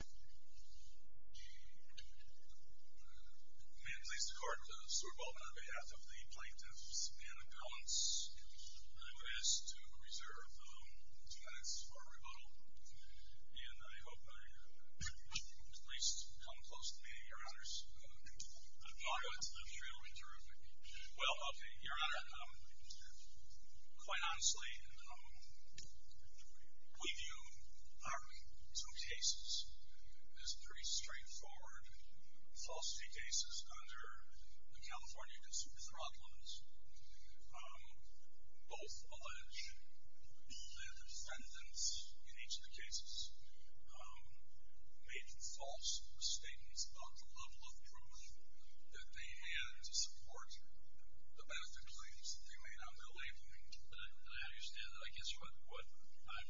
May it please the Court, Mr. Baldwin, on behalf of the Plaintiffs and Appellants, I would ask to reserve two minutes for rebuttal, and I hope I've at least come close to meeting your honors. Your Honor, quite honestly, we view our two cases as pretty straightforward falsity cases under the California Consumer Fraud Laws. Both allege that the defendants in each of the cases made false statements about the level of proof that they had to support the benefit claims that they made on their labeling. And I understand that. I guess what I'm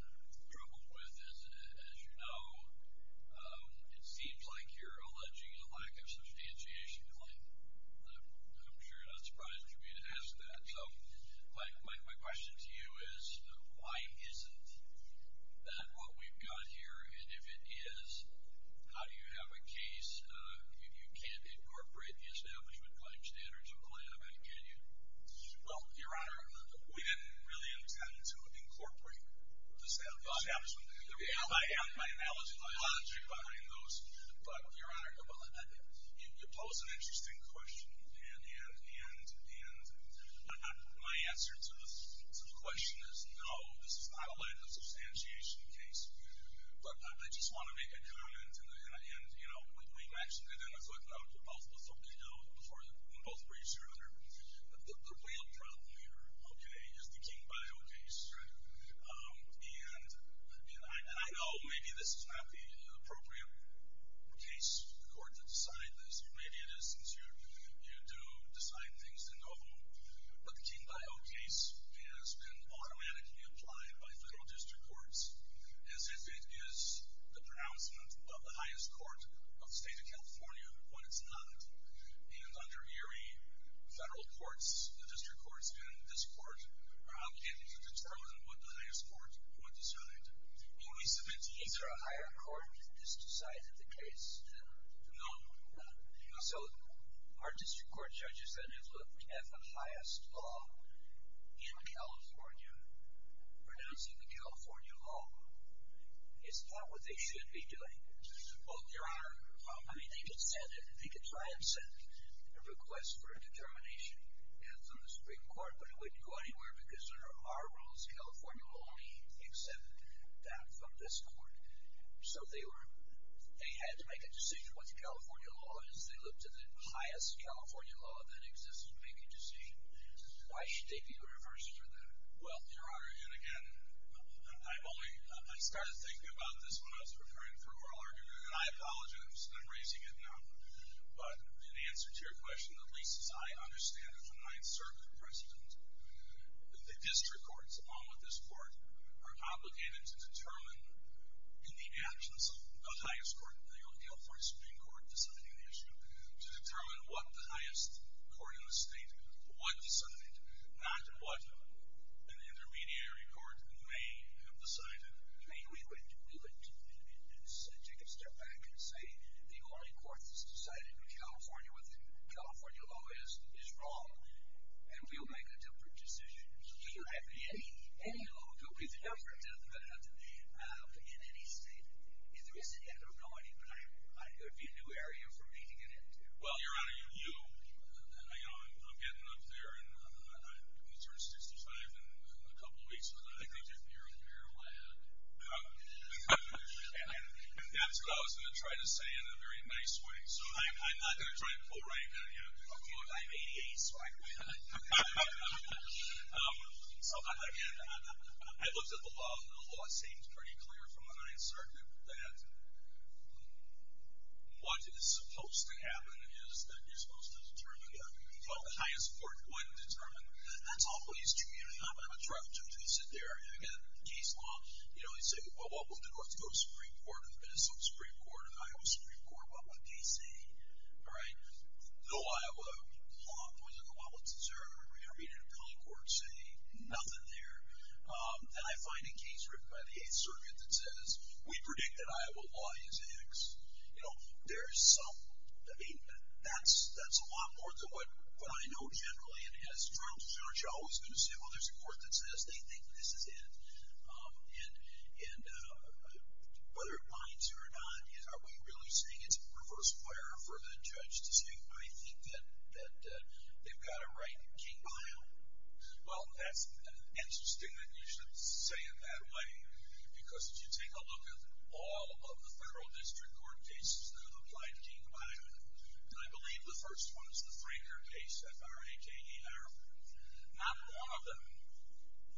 troubled with is, as you know, it seems like you're alleging a lack of substantiation claim. I'm sure you're not surprised for me to ask that. So my question to you is, why isn't that what we've got here? And if it is, how do you have a case? You can't incorporate the Establishment Claim Standards in a claim, can you? Well, Your Honor, we didn't really intend to incorporate the Establishment Claim Standards. There was my analogy behind those. But, Your Honor, you pose an interesting question. And my answer to the question is, no, this is not a lack of substantiation case. But I just want to make a comment, and, you know, we matched it in a footnote before we both reached Your Honor. The real problem here, okay, is the King-Bio case. And I know maybe this is not the appropriate case for the court to decide this, or maybe it is since you do decide things in the home, but the King-Bio case has been automatically applied by federal district courts as if it is the pronouncement of the highest court of the state of California when it's not. And under Erie, federal courts, the district courts, and this court are obligated to determine what the highest court would decide. Is there a higher court that has decided the case? No. So, are district court judges that have looked at the highest law in California, pronouncing the California law, is that what they should be doing? Well, Your Honor, I mean, they could try and send a request for a determination, and it's on the Supreme Court, but it wouldn't go anywhere because under our rules, California will only accept that from this court. So, they had to make a decision what the California law is. They looked at the highest California law that exists to make a decision. Why should they be reversed for that? Well, Your Honor, and again, I started thinking about this when I was referring to oral argument, and I apologize, and I'm raising it now. But in answer to your question, at least as I understand it from my insertion of precedent, the district courts, along with this court, are obligated to determine in the actions of the highest court, the California Supreme Court, deciding the issue, to determine what the highest court in the state would decide, not what an intermediary court may have decided. I mean, we would take a step back and say, the only court that's decided in California what the California law is, is wrong, and we'll make a different decision. Any law will be different. In any state, if there is an end or no end, it would be a new area for me to get into. Well, Your Honor, you know, I'm getting up there, and I'm going to turn 65 in a couple weeks, but I think you're a fair lad. And that's what I was going to try to say in a very nice way. So I'm not going to try to pull rank on you. I'm 88, so I quit. So, again, I looked at the law, and the law seems pretty clear from my insertion that what is supposed to happen is that you're supposed to determine what the highest court would determine. That's always true. You know, I'm not going to try to introduce it there. And, again, case law, you know, they say, well, what would the North Dakota Supreme Court and the Minnesota Supreme Court and the Iowa Supreme Court, what would they say? All right. The Iowa law, what does the law deserve? I mean, an appellate court saying nothing there. And I find a case written by the Eighth Circuit that says, we predict that Iowa law is X. You know, there's some, I mean, that's a lot more than what I know generally. And as far as the judge, I'm always going to say, well, there's a court that says they think this is it. And whether it binds you or not, are we really saying it's a reverse player for the judge to say, I think that they've got it right, King, Iowa? Well, that's interesting that you should say it that way, because if you take a look at all of the federal district court cases that apply to King, Iowa, and I believe the first one is the Frazier case, F-R-A-K-E-R. Not one of them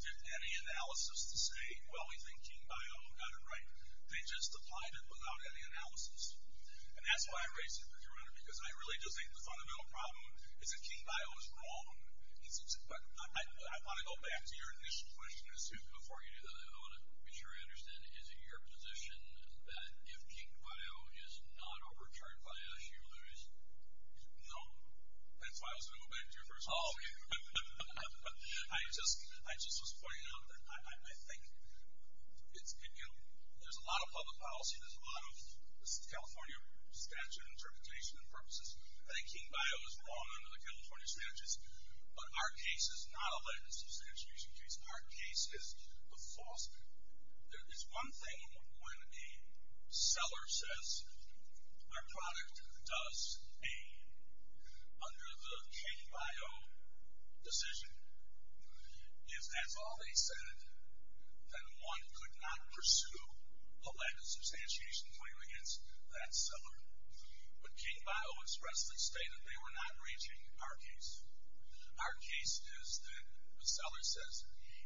did any analysis to say, well, we think King, Iowa got it right. They just applied it without any analysis. And that's why I raised it with your Honor, because I really do think the fundamental problem is that King, Iowa is wrong. But I want to go back to your initial question as to before you do that, I want to be sure I understand. Is it your position that if King, Iowa is not overcharged by the issue, there is? No. That's why I was going to go back to your first question. Oh, okay. I just was pointing out that I think there's a lot of public policy. There's a lot of California statute interpretation and purposes. I think King, Iowa is wrong under the California statutes. But our case is not a legislation case. Our case is a false case. There is one thing when a seller says our product does A under the King, Iowa decision. If that's all they said, then one could not pursue a legislation claim against that seller. But King, Iowa expressly stated they were not reaching our case. Our case is that a seller says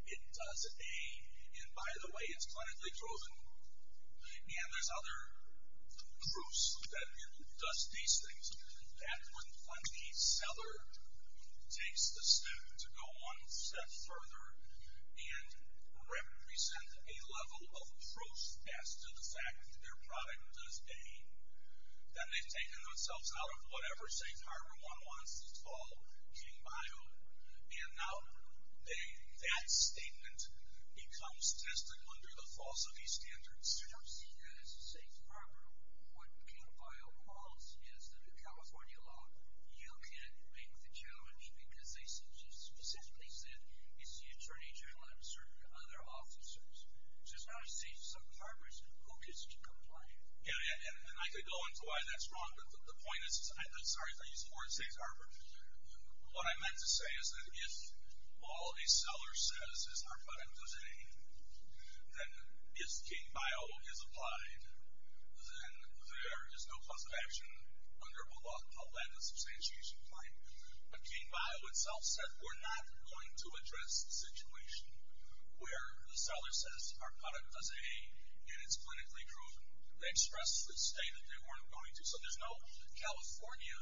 it does A. And by the way, it's clinically proven. And there's other proofs that it does these things. That's when the seller takes the step to go one step further and represent a level of proof as to the fact that their product does A. Then they've taken themselves out of whatever safe harbor one wants to call King, Iowa. And now that statement becomes tested under the false of these standards. I don't see that as a safe harbor. What King, Iowa calls is that a California law, you can't make the challenge because they specifically said it's the attorney general and certain other officers. So it's not a safe harbor. Who gets to comply? Yeah, and I could go into why that's wrong. But the point is, I'm sorry if I used the word safe harbor. What I meant to say is that if all a seller says is our product does A, then if King, Biola is applied, then there is no cause of action under a law called landless substantiation claim. But King, Biola itself said we're not going to address the situation where the seller says our product does A, and it's clinically proven. They expressly stated they weren't going to. So there's no California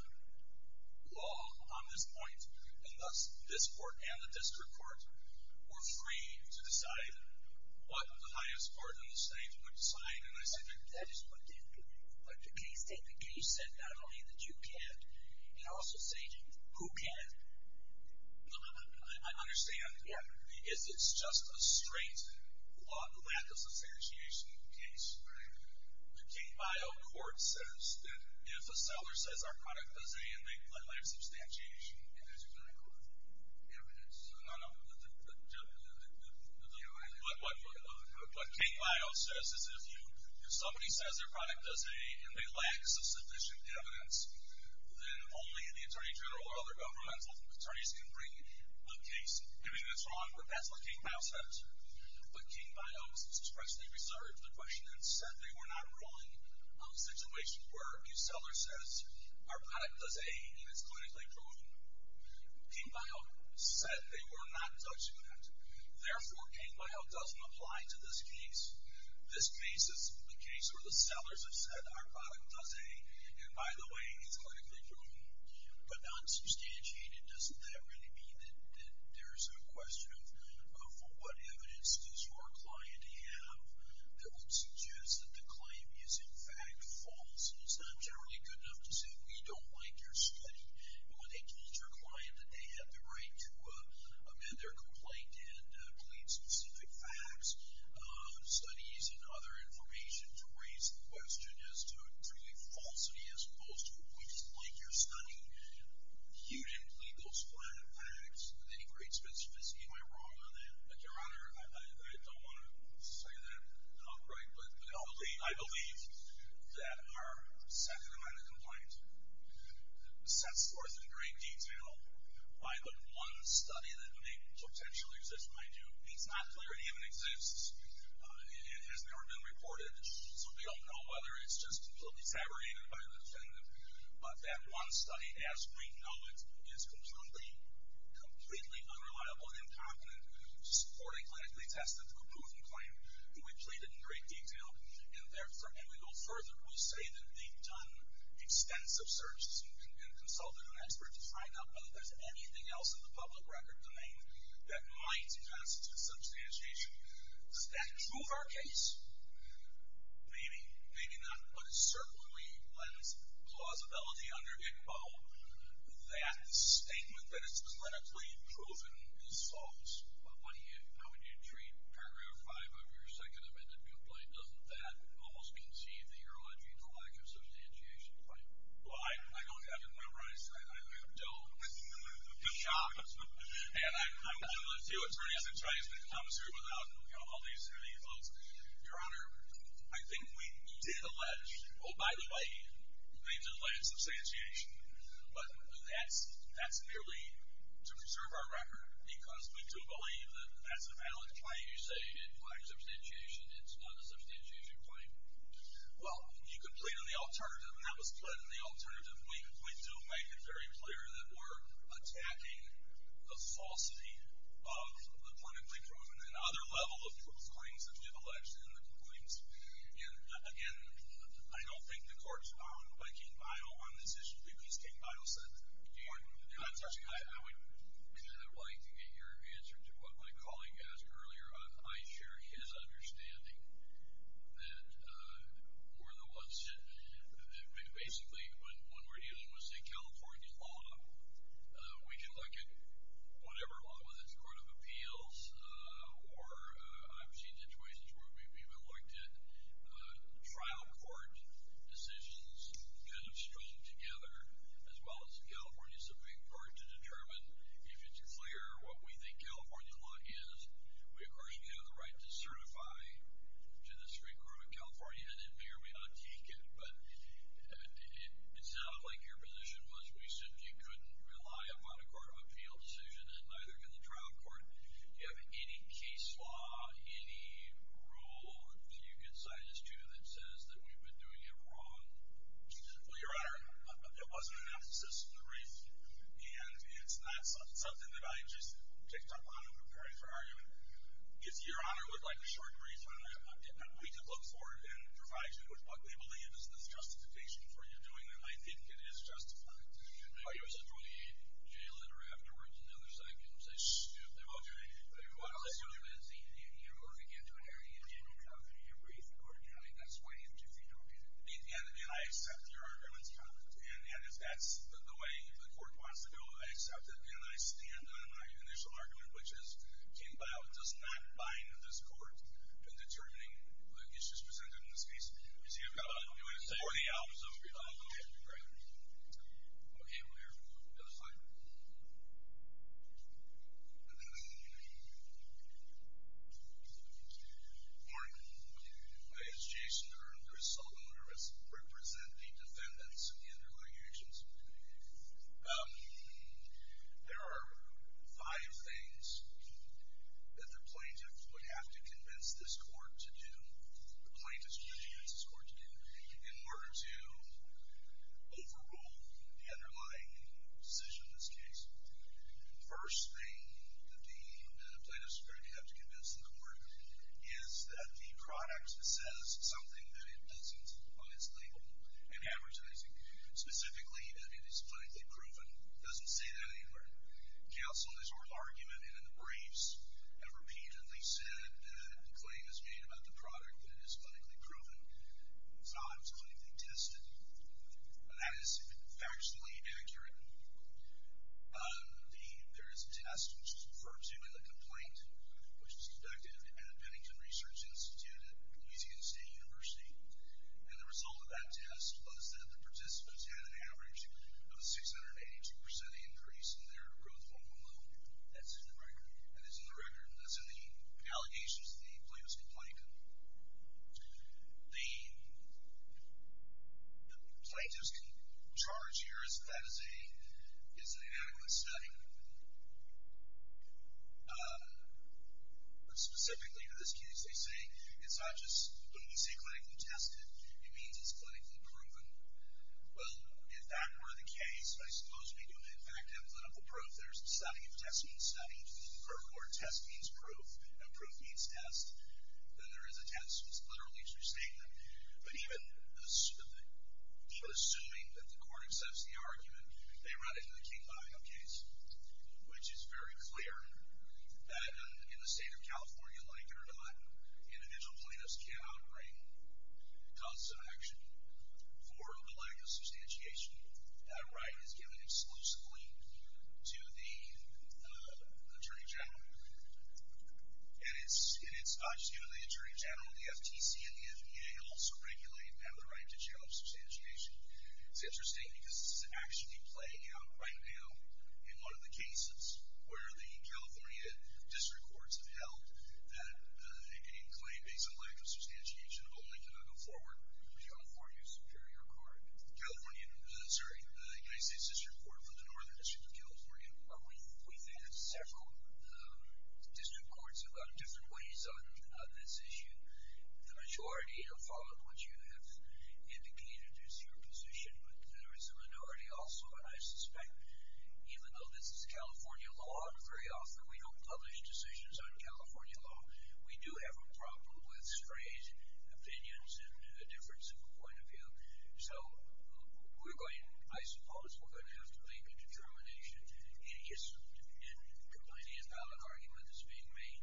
law on this point, and thus this court and the district court were free to decide what the highest court in the state would decide. And I said that is what the case stated. The case said not only that you can, and I also say who can. I understand. It's just a straight landless substantiation case. The King, Biola court says that if a seller says our product does A and they apply landless substantiation. And there's no evidence. No, no. What King, Biola says is if somebody says their product does A and they lack sufficient evidence, then only the attorney general or other governmental attorneys can bring a case. I mean, that's wrong, but that's what King, Biola says. But King, Biola expressly reserved the question and said they were not drawing on situations where a seller says our product does A and it's clinically proven. King, Biola said they were not touching that. Therefore, King, Biola doesn't apply to this case. This case is the case where the sellers have said our product does A and, by the way, it's clinically proven. But not substantiated, doesn't that really mean that there's a question of what evidence does our client have that would suggest that the claim is, in fact, false? And it's not generally good enough to say we don't like your study. And when they told your client that they had the right to amend their complaint and plead specific facts, studies and other information to raise the question as to, truly, falsity as opposed to we just like your study, you didn't plead those facts with any great specificity. Am I wrong on that? Your Honor, I don't want to say that outright, but I believe that our second amendment complaint sets forth in great detail why the one study that may potentially exist might do. It's not clear it even exists. It has never been reported, so we don't know whether it's just completely tabernated by the defendant. But that one study, as we know it, is completely unreliable and incompetent for a clinically tested, proven claim. And we plead it in great detail. And we go further. We say that they've done extensive searches and consulted an expert to find out whether there's anything else in the public record domain that might constitute substantiation. Is that true of our case? Maybe, maybe not. But it certainly lends plausibility under ICMO, that statement that it's clinically proven is false. How would you treat paragraph five of your second amendment complaint? Doesn't that almost concede that you're alleging the lack of substantiation claim? Well, I don't have it memorized. I have dealt with the shops. And I'm willing to do a 36-day commissary without all these evils. Your Honor, I think we did allege, oh, by the way, we did allege substantiation. But that's merely to preserve our record. Because we do believe that that's a valid claim. You say it lacks substantiation. It's not a substantiation claim. Well, you could plead on the alternative. And that was plead on the alternative. We do make it very clear that we're attacking the falsity of the clinically proven and other level of claims that we've alleged in the complaints. And, again, I don't think the court's bound by King Bile on this issue. At least King Bile said that. Your Honor, I would kind of like to get your answer to what my colleague asked earlier. I share his understanding that we're the ones that basically when we're dealing with, say, California law, we can look at whatever law, whether it's court of appeals or I've seen situations where we've even looked at trial court decisions kind of strung together as well as the California Supreme Court to determine if it's clear what we think California law is. We, of course, have the right to certify to the Supreme Court of California, and it may or may not take it. But it sounded like your position was we said you couldn't rely upon a court of appeal decision, and neither can the trial court. Do you have any case law, any rule that you can cite us to that says that we've been doing it wrong? Well, Your Honor, it wasn't an emphasis in the brief, and it's not something that I just picked up on in preparing for argument. If Your Honor would like a short brief on that, we can look for it and provide you with what we believe is the justification for your doing it. I think it is justified. Oh, you're literally jailed or have to work another second. I'm going to say, shh, they're all doing it. What I'll assume is you're going to get to an area in general where you agree with the court. I mean, that's way into the argument. And I accept your argument's comment. And if that's the way the court wants to go, I accept it. And I stand on my initial argument, which as came about does not bind this court in determining the issues presented in this case. You see, I've got a new answer. Or the opposite. Okay, great. Okay, we'll hear from you. Another slide, please. Morning. My name is Jason. I'm the resultant. I represent the defendants in the underlying actions. There are five things that the plaintiff would have to convince this court to do, the plaintiffs would have to convince this court to do in order to overrule the underlying decision in this case. The first thing that the plaintiffs would have to convince the court is that the product says something that it doesn't on its label in advertising. Specifically, that it is clinically proven. It doesn't say that anywhere. Counsel, in his oral argument and in the briefs, have repeatedly said that the claim is made about the product that it is clinically proven. It's not always clinically tested. That is factually accurate. There is a test which is referred to in the complaint, which was conducted at the Pennington Research Institute at Louisiana State University. And the result of that test was that the participants had an average of a 682% increase in their growth hormone level. That's in the record. That is in the record. That's in the allegations that the plaintiff's complained to. The plaintiff's charge here is that that is an inadequate study. Specifically for this case, they say it's not just, when we say clinically tested, it means it's clinically proven. Well, if that were the case, I suppose we do, in fact, have clinical proof. There's a study. A test means study. For a court, a test means proof. And proof means test. Then there is a test. It's literally just a statement. But even assuming that the court accepts the argument, they run into the King-Lion case, which is very clear that in the state of California, like it or not, individual plaintiffs cannot bring causes of action for a lack of substantiation. That right is given exclusively to the attorney general. And it's not just given to the attorney general. The FTC and the FDA also regulate and have the right to jail of substantiation. It's interesting because this is actually playing out right now in one of the cases where the California district courts have argued that any claim based on lack of substantiation only can go forward to the California Superior Court. California, sorry, United States District Court from the Northern District of California. Well, we've had several district courts have gone different ways on this issue. The majority have followed what you have indicated as your position. But there is a minority also, and I suspect, even though this is California law, very often we don't publish decisions on California law. We do have a problem with strange opinions and a difference of point of view. So we're going to, I suppose, we're going to have to make a determination in combining a valid argument that's being made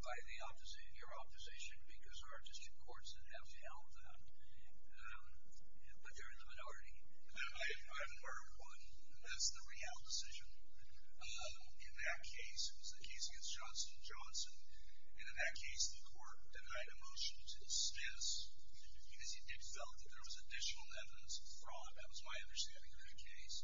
by the opposite, your opposition, because there are district courts that have held that. But there is a minority. I have an argument for that. That's the real decision. In that case, it was the case against Johnston & Johnson, and in that case the court denied a motion to dismiss because it felt that there was additional evidence of fraud. That was my understanding of the case.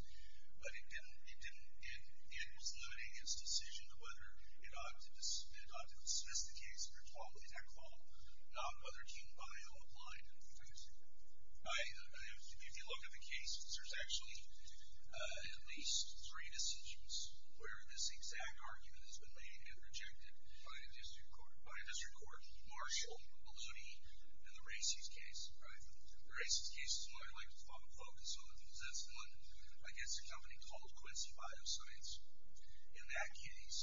But it didn't, it didn't, it was limiting its decision of whether it ought to dismiss the case under Tom Lee's Act law, not whether Team Bio applied it. If you look at the cases, there's actually at least three decisions where this exact argument has been made and rejected by a district court. By a district court, Marshall, Maloney, and the Racy's case. The Racy's case is the one I like to focus on because that's the one against a company called Quincy Bioscience. In that case,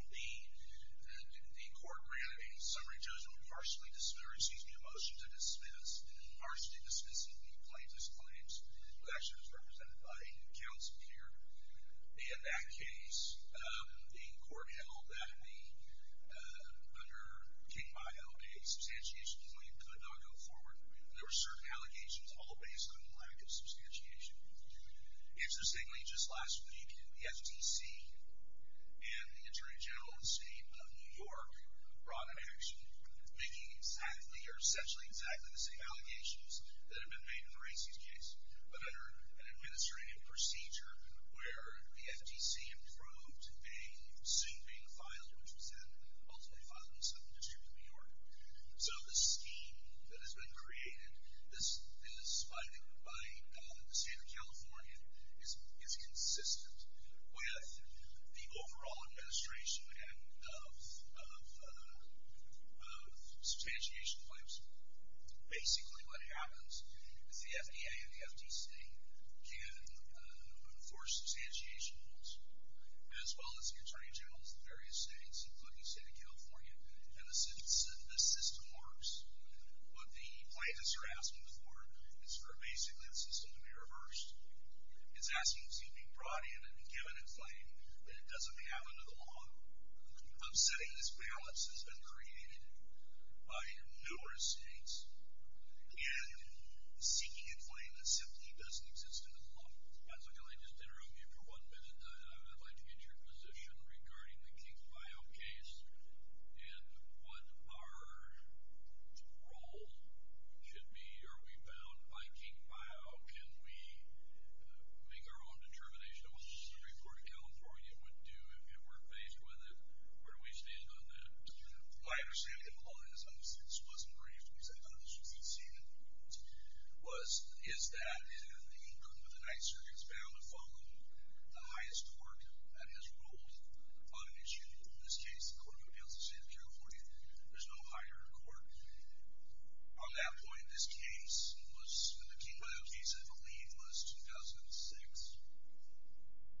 the court ran a summary judgment harshly dismissing the motion to dismiss, harshly dismissing the plaintiff's claims. It was actually represented by a counsel here. In that case, the court held that under Team Bio, a substantiation claim could not go forward. There were certain allegations all based on lack of substantiation. Interestingly, just last week, the FTC and the Attorney General of the making essentially exactly the same allegations that had been made in the Racy's case, but under an administrative procedure where the FTC approved a suit being filed, which was ultimately filed in the Southern District of New York. The scheme that has been created, this is by the state of California, is consistent with the overall administration of substantiation claims. Basically, what happens is the FDA and the FTC can enforce substantiation rules, as well as the Attorney General of various states, including the state of California, and the system works. What the plaintiff's grasping for is for basically the system to be reversed. It's asking to be brought in and given a claim that it doesn't have under the law. I'm saying this balance has been created by numerous states and seeking a claim that simply doesn't exist under the law. So can I just interrupt you for one minute? I'd like to get your position regarding the Team Bio case and what our role should be. Are we bound by Team Bio? Can we make our own determination? What does the Supreme Court of California would do if it weren't faced with it? Where do we stand on that? My understanding of the law, and this wasn't briefed, at least I thought it was when we'd seen it, is that the court within the Ninth Circuit is bound to follow the highest court that has ruled on an issue. In this case, the court of appeals in the state of California. There's no higher court. On that point, this case was, the Team Bio case, I believe, was 2006. 2003.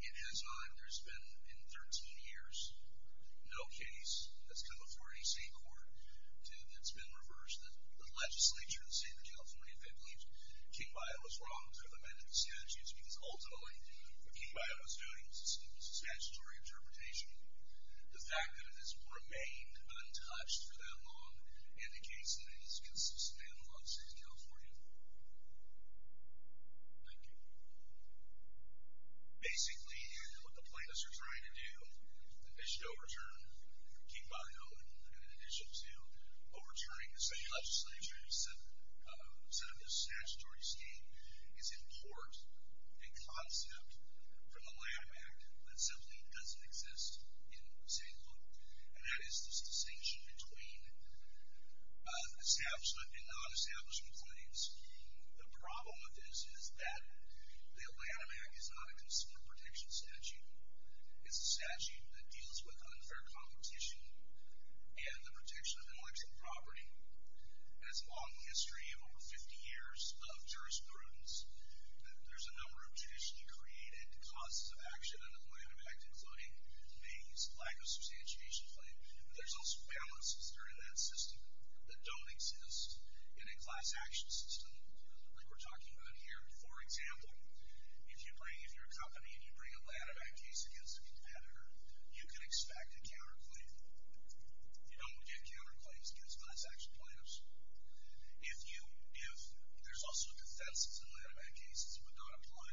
It has not, there's been in 13 years, no case that's come before any state court that's been reversed. The legislature in the state of California, they believe Team Bio was wrong to have amended the statutes because ultimately what Team Bio was doing was a statutory interpretation. The fact that it has remained untouched for that long indicates that it is consistent with the law of the state of California. Thank you. Basically, what the plaintiffs are trying to do, is to overturn Team Bio, in addition to overturning the state legislature instead of the statutory scheme, is import a concept from the Lab Act that simply doesn't exist in state law. And that is the distinction between establishment and non-establishment claims. The problem with this is that the Atlanta Act is not a consumer protection statute. It's a statute that deals with unfair competition and the protection of intellectual property. It has a long history of over 50 years of jurisprudence. There's a number of traditionally created causes of action in the Atlanta Act, including the lack of substantiation claim, but there's also balances that are in that system that don't exist in a class action system, like we're talking about here. For example, if you're a company and you bring an Atlanta Act case against a competitor, you can expect a counterclaim. You don't get counterclaims against class action plaintiffs. There's also defenses in the Atlanta Act cases that would not apply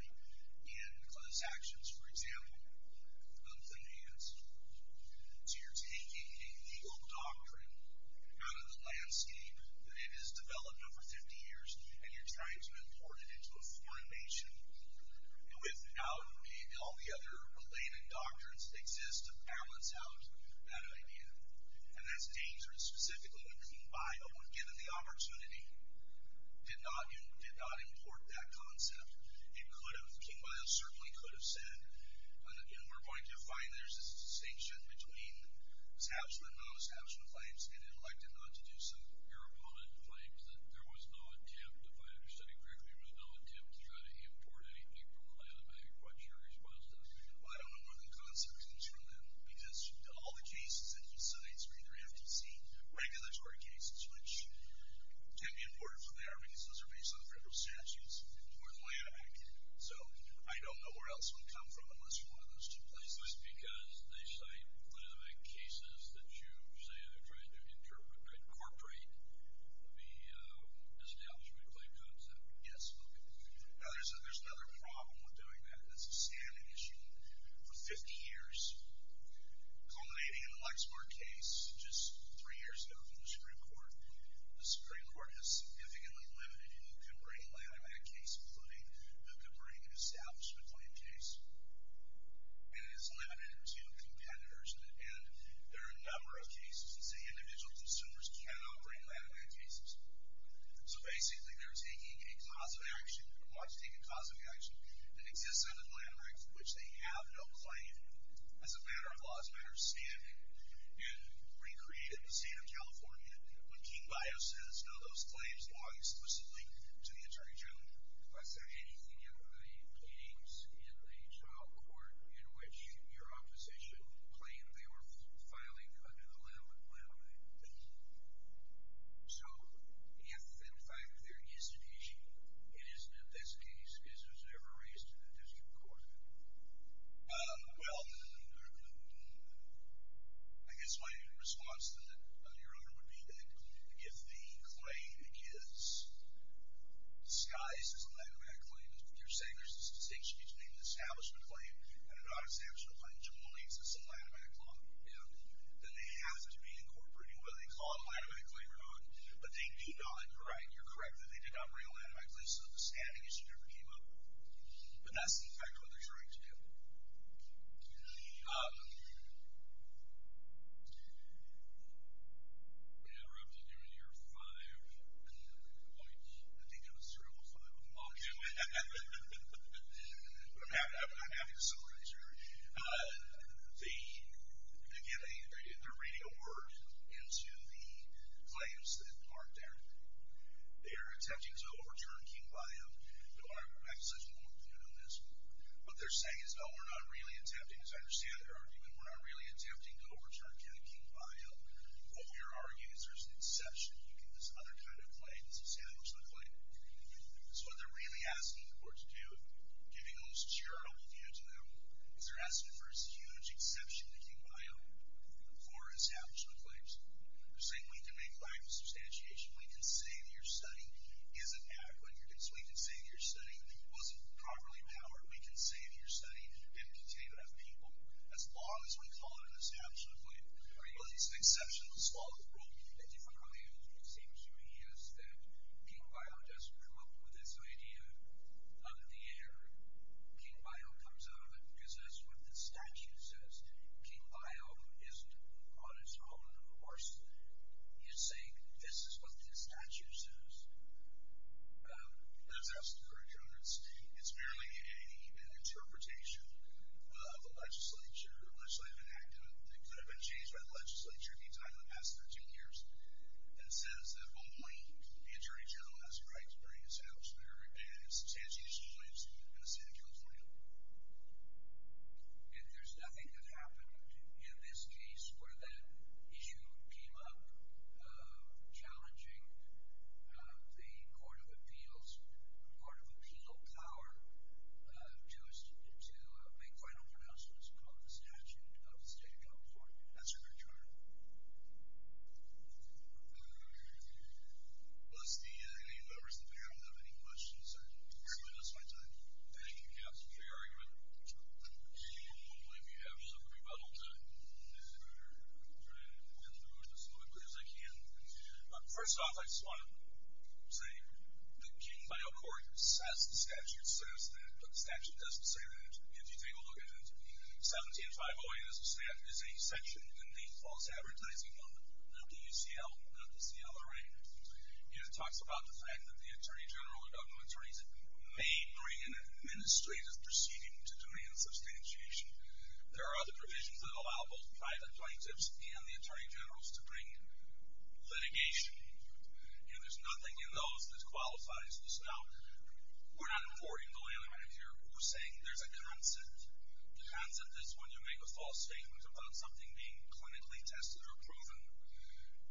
in class actions. For example, thumbs in the hands. So you're taking a legal doctrine out of the landscape that it has developed over 50 years and you're trying to import it into a foreign nation without all the other related doctrines that exist to balance out that idea. And that's dangerous, specifically when King Biles, when given the opportunity, did not import that concept. King Biles certainly could have said, and we're going to find there's a distinction between non-substantial claims and elected not to do so. Your opponent claims that there was no attempt, if I understood it correctly, there was no attempt to try to import anything from Atlanta but I'm quite sure he was positive. Well, I don't know where the concept comes from then because all the cases that he cites are either FTC, regulatory cases, which tend to be important from there because those are based on federal statutes more than the Atlanta Act. So I don't know where else it would come from unless you're one of those two places. That's because they cite one of the big cases that you say they're trying to incorporate the establishment claim concept. Yes. Now there's another problem with doing that. That's a standing issue for 50 years culminating in the Lexmark case just three years ago from the Supreme Court. The Supreme Court has significantly limited who can bring land in that case including who can bring an establishment claim case. And it's limited to competitors and there are a number of cases that say individual consumers cannot bring land in that case. So basically they're taking a cause of action and want to take a cause of action that exists under the Atlanta Act for which they have no claim as a matter of law, as a matter of standing and recreated the state of California when King Bio says no, those claims belong explicitly to the Attorney General. Was there anything in the games in the trial court in which your opposition claimed they were filing an Atlanta claim? So if in fact there is an issue it isn't a best case because it was never raised in the district court. Well, I guess my response to that Your Honor, would be that if the claim is disguised as an Atlanta Act claim you're saying there's an establishment claim and an non-establishment claim. That they have to be incorporating what they call an Atlanta Act claim but they do not, you're right, you're correct that they did not bring an Atlanta Act claim so the standing issue never came up. But that's in fact what they're trying to do. We interrupted you in your five I think it was three or five I'm happy to summarize your argument They're giving, they're reading a word into the claims that aren't there. They're attempting to overturn King Bio Your Honor, I have such warmth when you're doing this What they're saying is no, we're not really attempting as I understand their argument, we're not really attempting to overturn King Bio What we're arguing is there's an exception you can use other kinds of claims to establish the claim So what they're really asking the court to do giving the most charitable view to them is they're asking for a huge exception to King Bio for establishment claims They're saying we can make life a substantiation, we can say that your study isn't adequate, we can say that your study wasn't properly powered, we can say that your study didn't contain enough people as long as we call it an establishment claim but it's an exception to the law of the world The difficulty, it seems to me, is that King Bio doesn't come up with this idea out of the air. King Bio comes out of it because that's what the statute says King Bio isn't on its own, of course You're saying this is what the statute says That's absolutely correct, Your Honor It's merely an interpretation of a legislature, a legislative enactment that could have been changed by the legislature in the past 13 years that says that only the Attorney General has the right to bring an establishment claim in a state of California And there's nothing that happened in this case where that issue came up challenging the Court of Appeals Court of Appeal power to to make final pronouncements on the statute of the state of California That's correct, Your Honor Any members of the panel have any questions? I think we're going to lose my time Thank you, Your Honor First off, I just want to say that King Bio Court says the statute says that but the statute doesn't say that 17-508 is a section in the False Advertising Amendment not the UCL, not the CLRA and it talks about the fact that the Attorney General or government attorneys may bring an administrative proceeding to demand substantiation There are other provisions that allow both private plaintiffs and the Attorney Generals to bring litigation and there's nothing in those that qualifies this Now, we're not avoiding the layman here We're saying there's a concept The concept is when you make a false statement about something being clinically tested or proven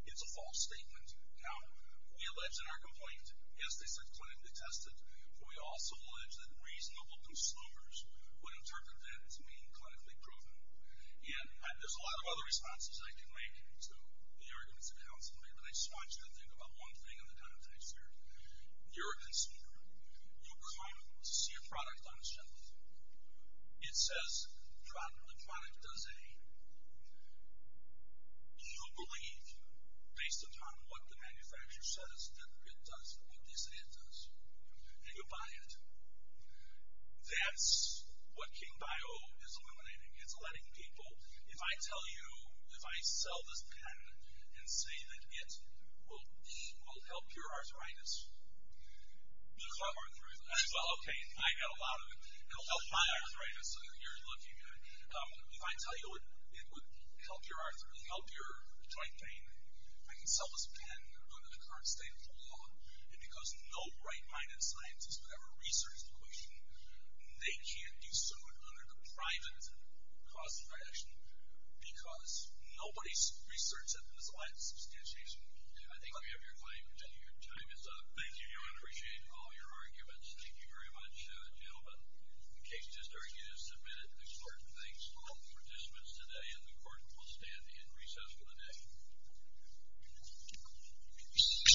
It's a false statement Now, we allege in our complaint, yes they said clinically tested but we also allege that reasonable consumers would interpret that as being clinically proven And there's a lot of other responses I can make to the arguments of counsel but I just want you to think about one thing in the context here You're a consumer. You come to see a product on a shelf It says the product does a You believe based upon what the manufacturer says that it does what they say it does and you buy it That's what King Bio is eliminating It's letting people If I tell you, if I sell this pen and say that it will help your arthritis Well, okay, I got a lot of it It'll help my arthritis If I tell you it would help your joint pain I can sell this pen under the current state of the law and because no right-minded scientist who have a research position they can't do so under the private cost of action because nobody researches it in the slightest substantiation I think we have your time is up Thank you, I appreciate all your arguments Thank you very much gentlemen In case you just argued or submitted important things All participants today in the court will stand and recess for the day